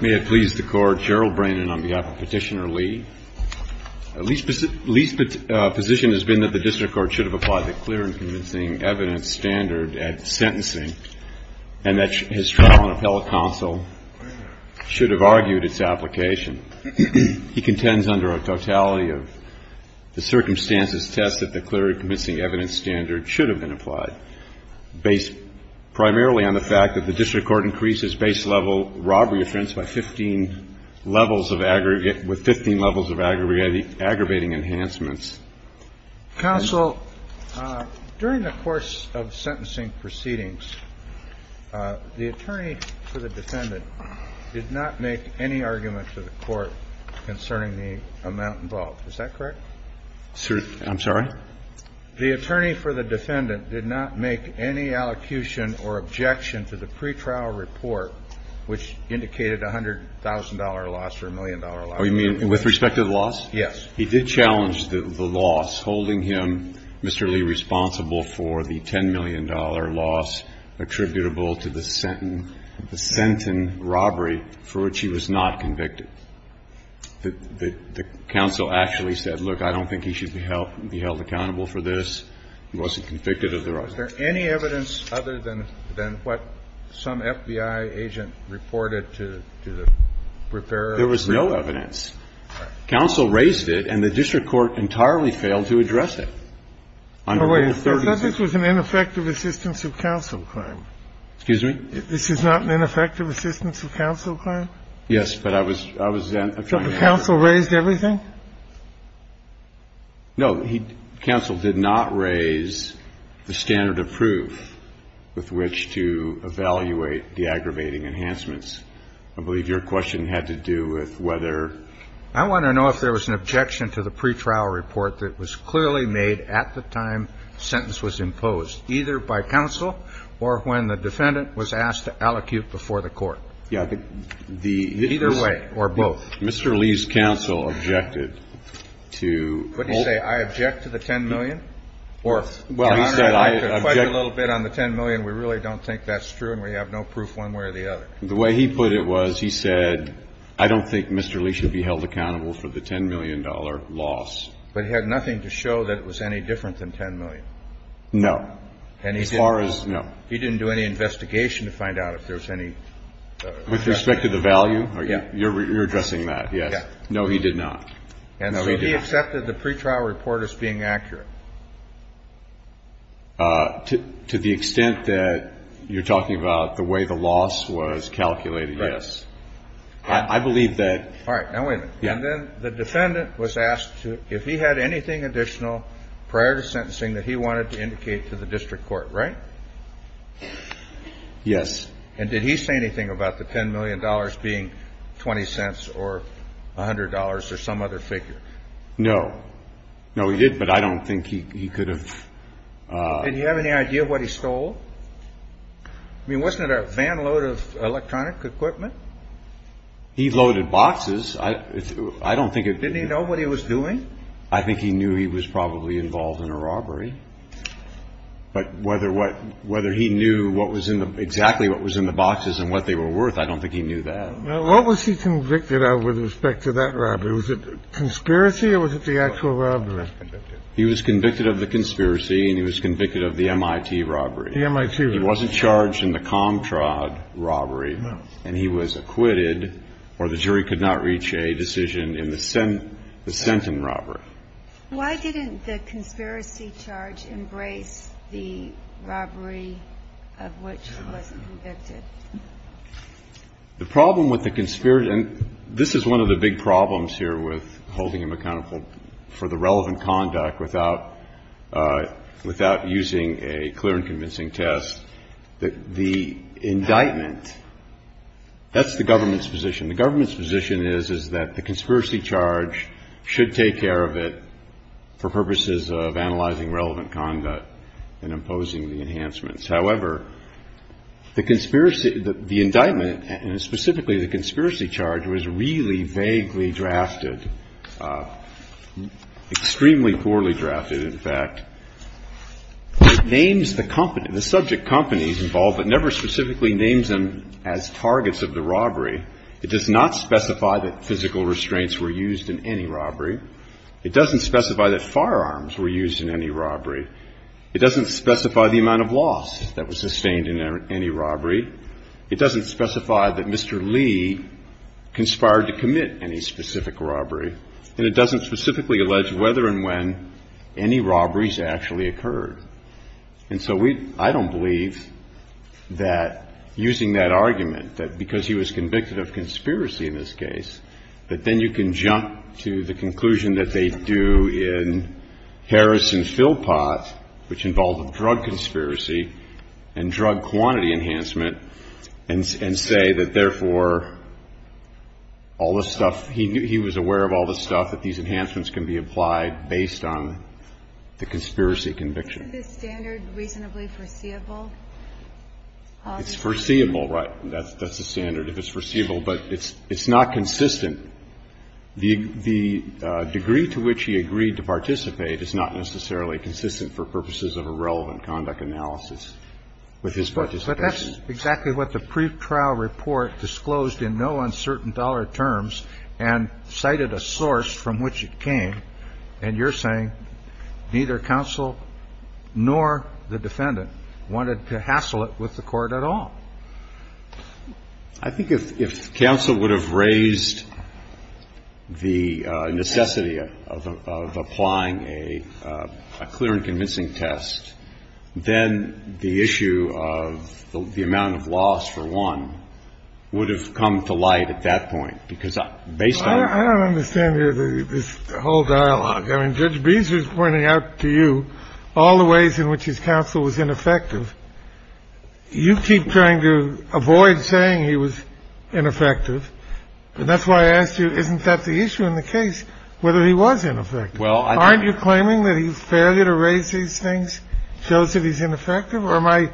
May it please the court, Gerald Brandon on behalf of Petitioner Lee. Lee's position has been that the district court should have applied the clear and convincing evidence standard at sentencing, and that his trial on appellate counsel should have argued its application. He contends under a totality of the circumstances test that the clear and convincing evidence standard should have been applied, based primarily on the fact that the district court increases base levels by 15 levels of aggravating enhancements. Counsel, during the course of sentencing proceedings, the attorney for the defendant did not make any argument to the court concerning the amount involved. Is that correct? I'm sorry? The attorney for the defendant did not make any allocution or objection to the pretrial report, which indicated a $100,000 loss or a million-dollar loss. Oh, you mean with respect to the loss? Yes. He did challenge the loss, holding him, Mr. Lee, responsible for the $10 million loss attributable to the sentencing robbery for which he was not convicted. The counsel actually said, look, I don't think he should be held accountable for this. He wasn't convicted of the robbery. Was there any evidence other than what some FBI agent reported to the preparer? There was no evidence. Counsel raised it, and the district court entirely failed to address it. I thought this was an ineffective assistance of counsel claim. Excuse me? This is not an ineffective assistance of counsel claim? Yes, but I was then trying to ask you. So the counsel raised everything? No. Counsel did not raise the standard of proof with which to evaluate the aggravating enhancements. I believe your question had to do with whether. I want to know if there was an objection to the pretrial report that was clearly made at the time the sentence was imposed, either by counsel or when the defendant was asked to allocute before the court. Yeah. Either way or both. Mr. Lee's counsel objected to. What did he say? I object to the $10 million? Well, he said I object. I could fudge a little bit on the $10 million. We really don't think that's true, and we have no proof one way or the other. The way he put it was he said, I don't think Mr. Lee should be held accountable for the $10 million loss. But he had nothing to show that it was any different than $10 million? No. As far as. No. He didn't do any investigation to find out if there was any. With respect to the value? Yeah. You're addressing that, yes. No, he did not. And so he accepted the pretrial report as being accurate? To the extent that you're talking about the way the loss was calculated, yes. I believe that. All right. Now wait a minute. Yeah. And then the defendant was asked if he had anything additional prior to sentencing that he wanted to indicate to the district court, right? Yes. And did he say anything about the $10 million being 20 cents or $100 or some other figure? No. No, he did, but I don't think he could have. Did he have any idea what he stole? I mean, wasn't it a van load of electronic equipment? He loaded boxes. I don't think it. Didn't he know what he was doing? I think he knew he was probably involved in a robbery. But whether he knew exactly what was in the boxes and what they were worth, I don't think he knew that. What was he convicted of with respect to that robbery? Was it a conspiracy or was it the actual robbery? He was convicted of the conspiracy and he was convicted of the MIT robbery. The MIT robbery. He wasn't charged in the Comtrod robbery. No. And he was acquitted, or the jury could not reach a decision, in the Senton robbery. Why didn't the conspiracy charge embrace the robbery of which he was convicted? The problem with the conspiracy, and this is one of the big problems here with holding him accountable for the relevant conduct without using a clear and convincing test, that the indictment, that's the government's position. The government's position is, is that the conspiracy charge should take care of it for purposes of analyzing relevant conduct and imposing the enhancements. However, the conspiracy, the indictment, and specifically the conspiracy charge, was really vaguely drafted, extremely poorly drafted, in fact. It names the company, the subject companies involved, but never specifically names them as targets of the robbery. It does not specify that physical restraints were used in any robbery. It doesn't specify that firearms were used in any robbery. It doesn't specify the amount of loss that was sustained in any robbery. It doesn't specify that Mr. Lee conspired to commit any specific robbery. And it doesn't specifically allege whether and when any robberies actually occurred. And so we, I don't believe that using that argument, that because he was convicted of conspiracy in this case, that then you can jump to the conclusion that they do in Harris and Philpott, which involved a drug conspiracy and drug quantity enhancement, and say that, therefore, all this stuff, he was aware of all this stuff, that these enhancements can be applied based on the conspiracy conviction. Isn't this standard reasonably foreseeable? It's foreseeable, right. That's the standard, if it's foreseeable. But it's not consistent. The degree to which he agreed to participate is not necessarily consistent for purposes of a relevant conduct analysis with his participation. But that's exactly what the pretrial report disclosed in no uncertain dollar terms and cited a source from which it came. And you're saying neither counsel nor the defendant wanted to hassle it with the court at all. I think if counsel would have raised the necessity of applying a clear and convincing test, then the issue of the amount of loss for one would have come to light at that point, because based on. I don't understand this whole dialogue. I mean, Judge Beezer is pointing out to you all the ways in which his counsel was ineffective. You keep trying to avoid saying he was ineffective. And that's why I asked you, isn't that the issue in the case, whether he was ineffective? Aren't you claiming that his failure to raise these things shows that he's ineffective? Or am I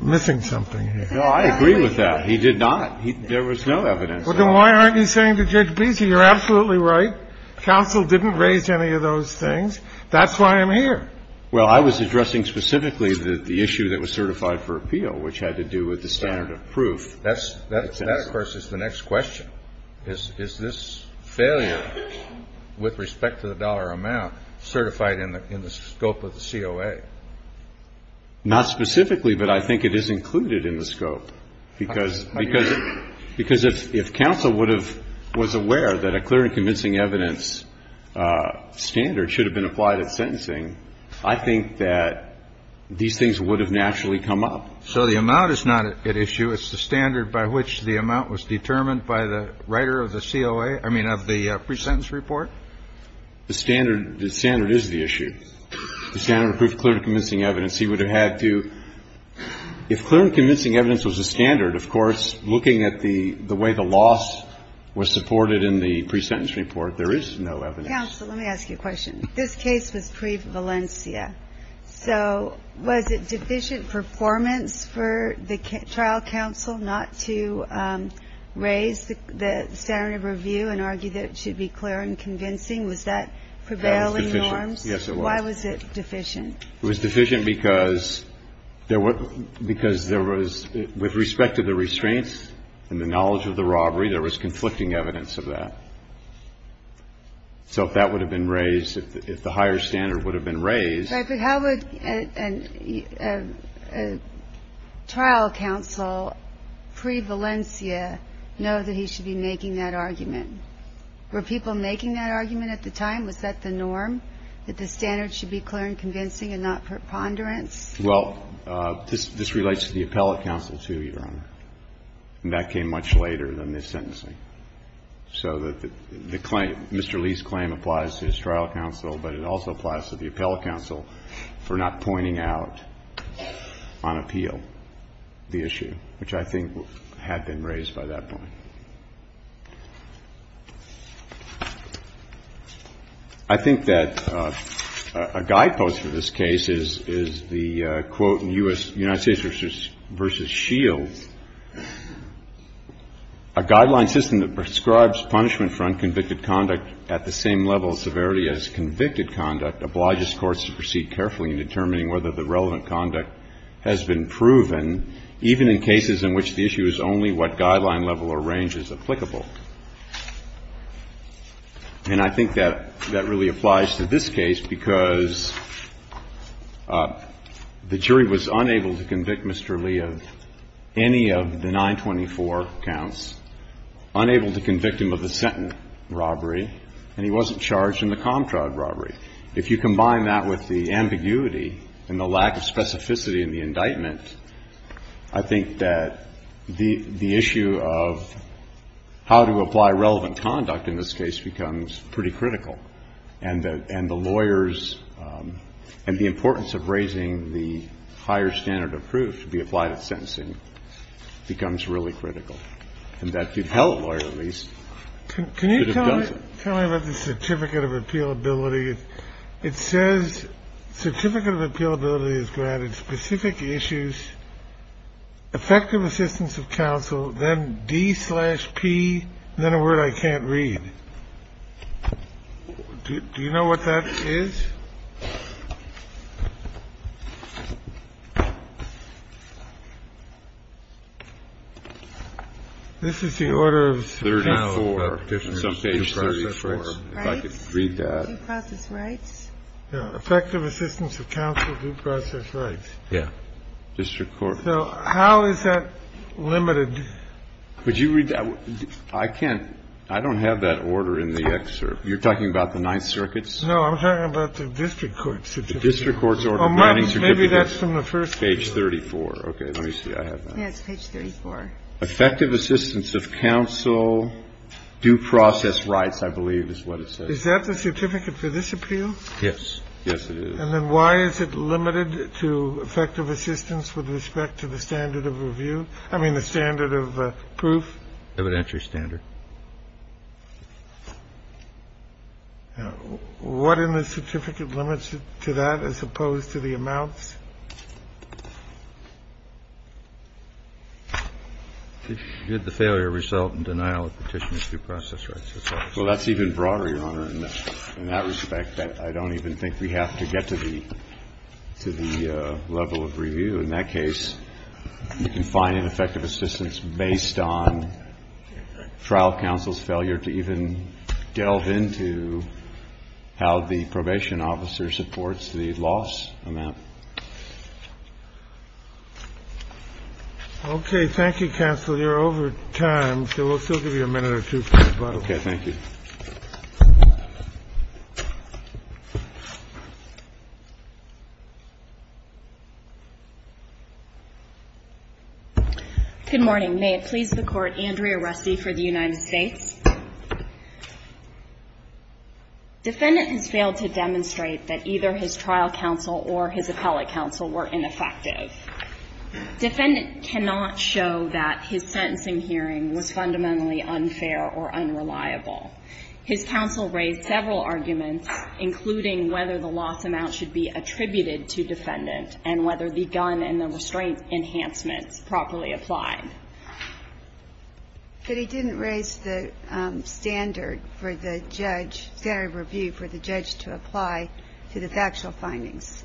missing something here? No, I agree with that. He did not. There was no evidence. Then why aren't you saying to Judge Beezer, you're absolutely right, counsel didn't raise any of those things, that's why I'm here? Well, I was addressing specifically the issue that was certified for appeal, which had to do with the standard of proof. That, of course, is the next question. Is this failure with respect to the dollar amount certified in the scope of the COA? Not specifically, but I think it is included in the scope, because if counsel was aware that a clear and convincing evidence standard should have been applied at sentencing, I think that these things would have naturally come up. So the amount is not at issue. It's the standard by which the amount was determined by the writer of the COA, I mean, of the presentence report? The standard is the issue. The standard of proof, clear and convincing evidence. He would have had to, if clear and convincing evidence was the standard, of course, looking at the way the loss was supported in the presentence report, there is no evidence. Counsel, let me ask you a question. This case was pre-Valencia. So was it deficient performance for the trial counsel not to raise the standard of review and argue that it should be clear and convincing? Was that prevailing norms? Yes, it was. Why was it deficient? It was deficient because there was, with respect to the restraints and the knowledge of the robbery, there was conflicting evidence of that. So if that would have been raised, if the higher standard would have been raised. But how would a trial counsel pre-Valencia know that he should be making that argument? Were people making that argument at the time? Was that the norm, that the standard should be clear and convincing and not preponderance? Well, this relates to the appellate counsel, too, Your Honor. And that came much later than this sentencing. So the claim, Mr. Lee's claim applies to his trial counsel, but it also applies to the appellate counsel for not pointing out on appeal the issue, which I think had been raised by that point. I think that a guidepost for this case is the quote in U.S. Judiciary versus Shields, a guideline system that prescribes punishment for unconvicted conduct at the same level of severity as convicted conduct obliges courts to proceed carefully in determining whether the relevant conduct has been proven, even in cases in which the issue is only what guideline level or range is applicable. And I think that really applies to this case because the jury was unable to convict Mr. Lee of any of the 924 counts, unable to convict him of the sentence robbery, and he wasn't charged in the Comtra robbery. If you combine that with the ambiguity and the lack of specificity in the indictment, I think that the issue of how to apply relevant conduct in this case becomes pretty critical, and the lawyers and the importance of raising the higher standard of proof to be applied at sentencing becomes really critical, and that the appellate lawyer, at least, should have done it. Tell me about the certificate of appealability. It says certificate of appealability is granted specific issues, effective assistance of counsel, then D slash P, then a word I can't read. Do you know what that is? This is the order of some page 34. If I could read that. Effective assistance of counsel, due process rights. Yeah. District court. So how is that limited? Could you read that? I can't. I don't have that order in the excerpt. You're talking about the Ninth Circuit? No, I'm talking about the district court. The district court's order of granting certificates. Maybe that's from the first page. Page 34. Okay, let me see. I have that. Yes, page 34. Effective assistance of counsel, due process rights, I believe, is what it says. Is that the certificate for this appeal? Yes. Yes, it is. And then why is it limited to effective assistance with respect to the standard of review? I mean, the standard of proof. Evidentiary standard. What in the certificate limits it to that as opposed to the amounts? Did the failure result in denial of petitions due process rights? Well, that's even broader, Your Honor. In that respect, I don't even think we have to get to the level of review. In that case, you can find an effective assistance based on trial counsel's failure to even delve into how the probation officer supports the loss amount. Okay. Thank you, counsel. You're over time, so we'll still give you a minute or two for rebuttal. Okay. Thank you. Good morning. May it please the Court, Andrea Rusty for the United States. Defendant has failed to demonstrate that either his trial counsel or his appellate counsel were ineffective. Defendant cannot show that his sentencing hearing was fundamentally unfair or unreliable. His counsel raised several arguments, including whether the loss amount should be attributed to defendant and whether the gun and the restraint enhancements properly applied. But he didn't raise the standard for the judge, standard of review for the judge to apply to the factual findings.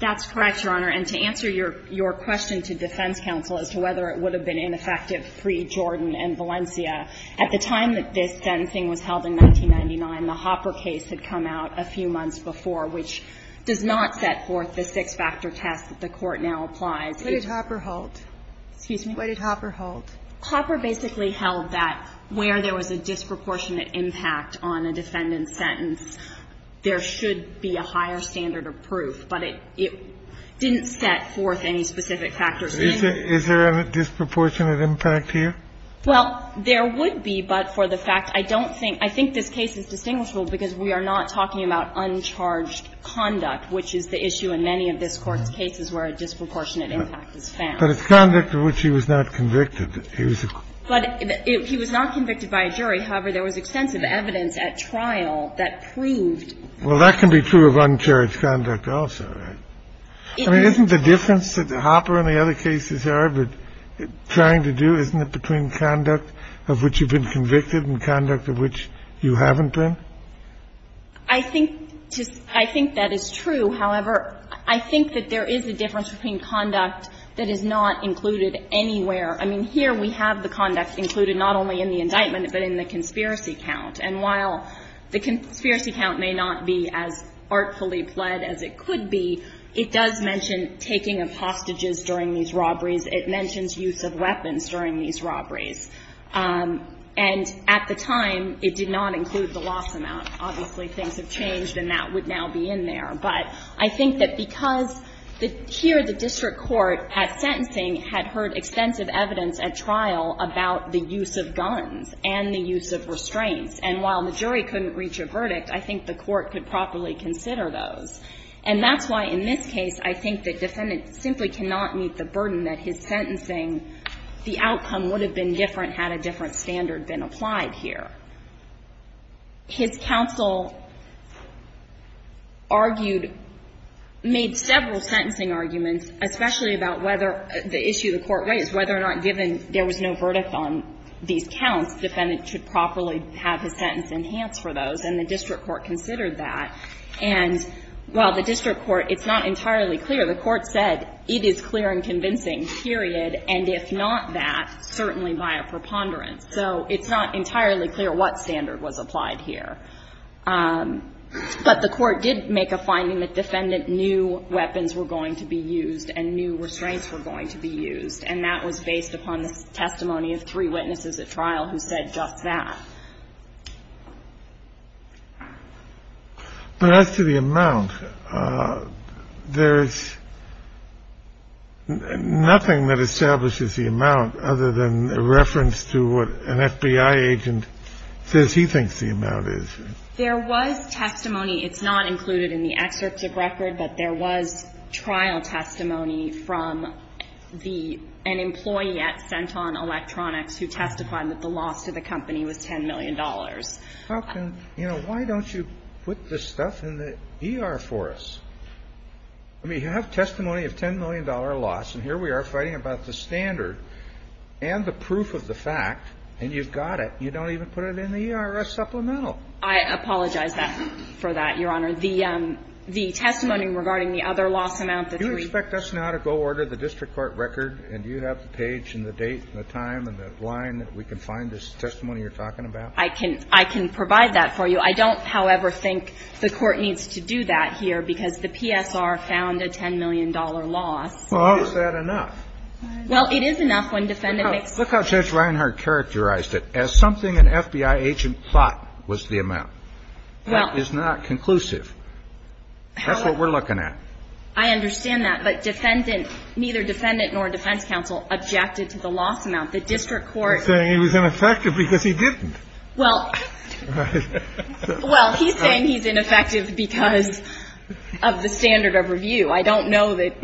That's correct, Your Honor. And to answer your question to defense counsel as to whether it would have been ineffective had it been effective pre-Jordan and Valencia, at the time that this sentencing was held in 1999, the Hopper case had come out a few months before, which does not set forth the six-factor test that the Court now applies. What did Hopper hold? Excuse me? What did Hopper hold? Hopper basically held that where there was a disproportionate impact on a defendant's sentence, there should be a higher standard of proof. But it didn't set forth any specific factors. Is there a disproportionate impact here? Well, there would be, but for the fact I don't think – I think this case is distinguishable because we are not talking about uncharged conduct, which is the issue in many of this Court's cases where a disproportionate impact is found. But it's conduct of which he was not convicted. But he was not convicted by a jury. However, there was extensive evidence at trial that proved. Well, that can be true of uncharged conduct also, right? I mean, isn't the difference that Hopper and the other cases are trying to do, isn't it, between conduct of which you've been convicted and conduct of which you haven't been? I think that is true. However, I think that there is a difference between conduct that is not included anywhere. I mean, here we have the conduct included not only in the indictment but in the conspiracy count. And while the conspiracy count may not be as artfully pled as it could be, it does mention taking of hostages during these robberies. It mentions use of weapons during these robberies. And at the time, it did not include the loss amount. Obviously, things have changed and that would now be in there. But I think that because here the district court at sentencing had heard extensive evidence at trial about the use of guns and the use of restraints. And while the jury couldn't reach a verdict, I think the court could properly consider those. And that's why in this case, I think the defendant simply cannot meet the burden that his sentencing, the outcome would have been different had a different standard been applied here. His counsel argued, made several sentencing arguments, especially about whether the issue the court raised, whether or not given there was no verdict on these And the district court considered that. And while the district court, it's not entirely clear. The court said it is clear and convincing, period, and if not that, certainly by a preponderance. So it's not entirely clear what standard was applied here. But the court did make a finding that defendant knew weapons were going to be used and knew restraints were going to be used, and that was based upon the testimony of three witnesses at trial who said just that. But as to the amount, there's nothing that establishes the amount other than a reference to what an FBI agent says he thinks the amount is. There was testimony. It's not included in the excerpt of record, but there was trial testimony from the sent on electronics who testified that the loss to the company was $10 million. How can, you know, why don't you put this stuff in the ER for us? I mean, you have testimony of $10 million loss, and here we are fighting about the standard and the proof of the fact, and you've got it. You don't even put it in the ER supplemental. I apologize for that, Your Honor. The testimony regarding the other loss amount that we You expect us now to go order the district court record and you have the page and the date and the time and the line that we can find this testimony you're talking about? I can provide that for you. I don't, however, think the court needs to do that here because the PSR found a $10 million loss. Well, how is that enough? Well, it is enough when defendants make. Look how Judge Reinhardt characterized it. As something an FBI agent thought was the amount. That is not conclusive. That's what we're looking at. I understand that. But defendant, neither defendant nor defense counsel objected to the loss amount. The district court. He's saying he was ineffective because he didn't. Well, he's saying he's ineffective because of the standard of review. I don't know that.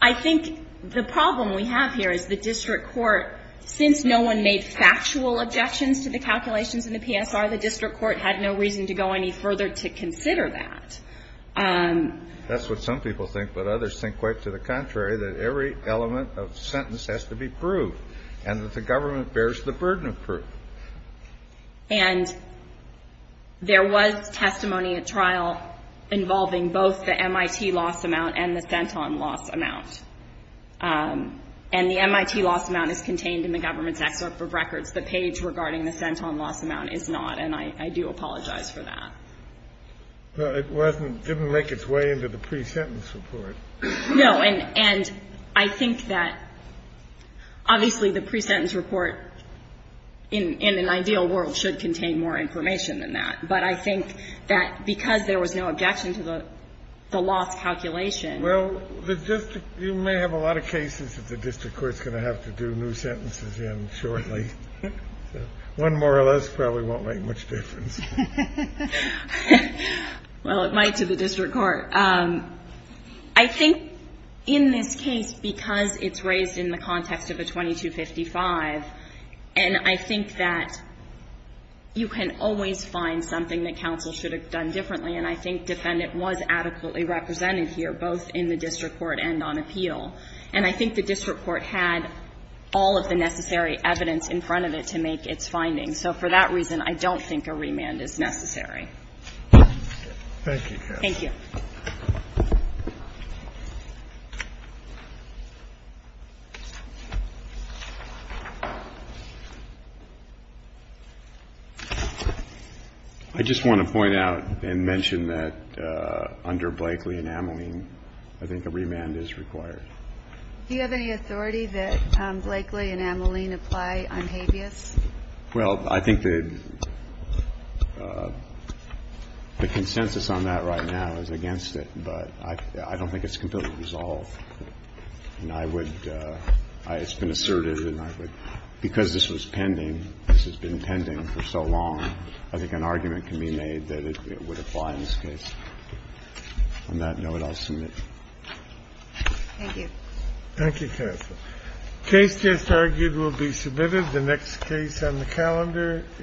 I think the problem we have here is the district court, since no one made factual objections to the calculations in the PSR, the district court had no reason to go any further to consider that. That's what some people think, but others think quite to the contrary, that every element of the sentence has to be proved and that the government bears the burden of proof. And there was testimony at trial involving both the MIT loss amount and the Centon loss amount. And the MIT loss amount is contained in the government's excerpt for records. The page regarding the Centon loss amount is not, and I do apologize for that. But it wasn't, didn't make its way into the pre-sentence report. No. And I think that obviously the pre-sentence report in an ideal world should contain more information than that. But I think that because there was no objection to the loss calculation. Well, the district, you may have a lot of cases that the district court is going to have to do new sentences in shortly. One more or less probably won't make much difference. Well, it might to the district court. I think in this case, because it's raised in the context of a 2255, and I think that you can always find something that counsel should have done differently, and I think defendant was adequately represented here, both in the district court and on appeal. And I think the district court had all of the necessary evidence in front of it to make its findings. So for that reason, I don't think a remand is necessary. Thank you. Thank you. I just want to point out and mention that under Blakely and Ameline, I think a remand is required. Do you have any authority that Blakely and Ameline apply on habeas? Well, I think that the consensus on that right now is that, yes, I think it's been asserted and I would, because this was pending, this has been pending for so long, I think an argument can be made that it would apply in this case. On that note, I'll submit. Thank you. Thank you, counsel. The case just argued will be submitted. The next case on the calendar.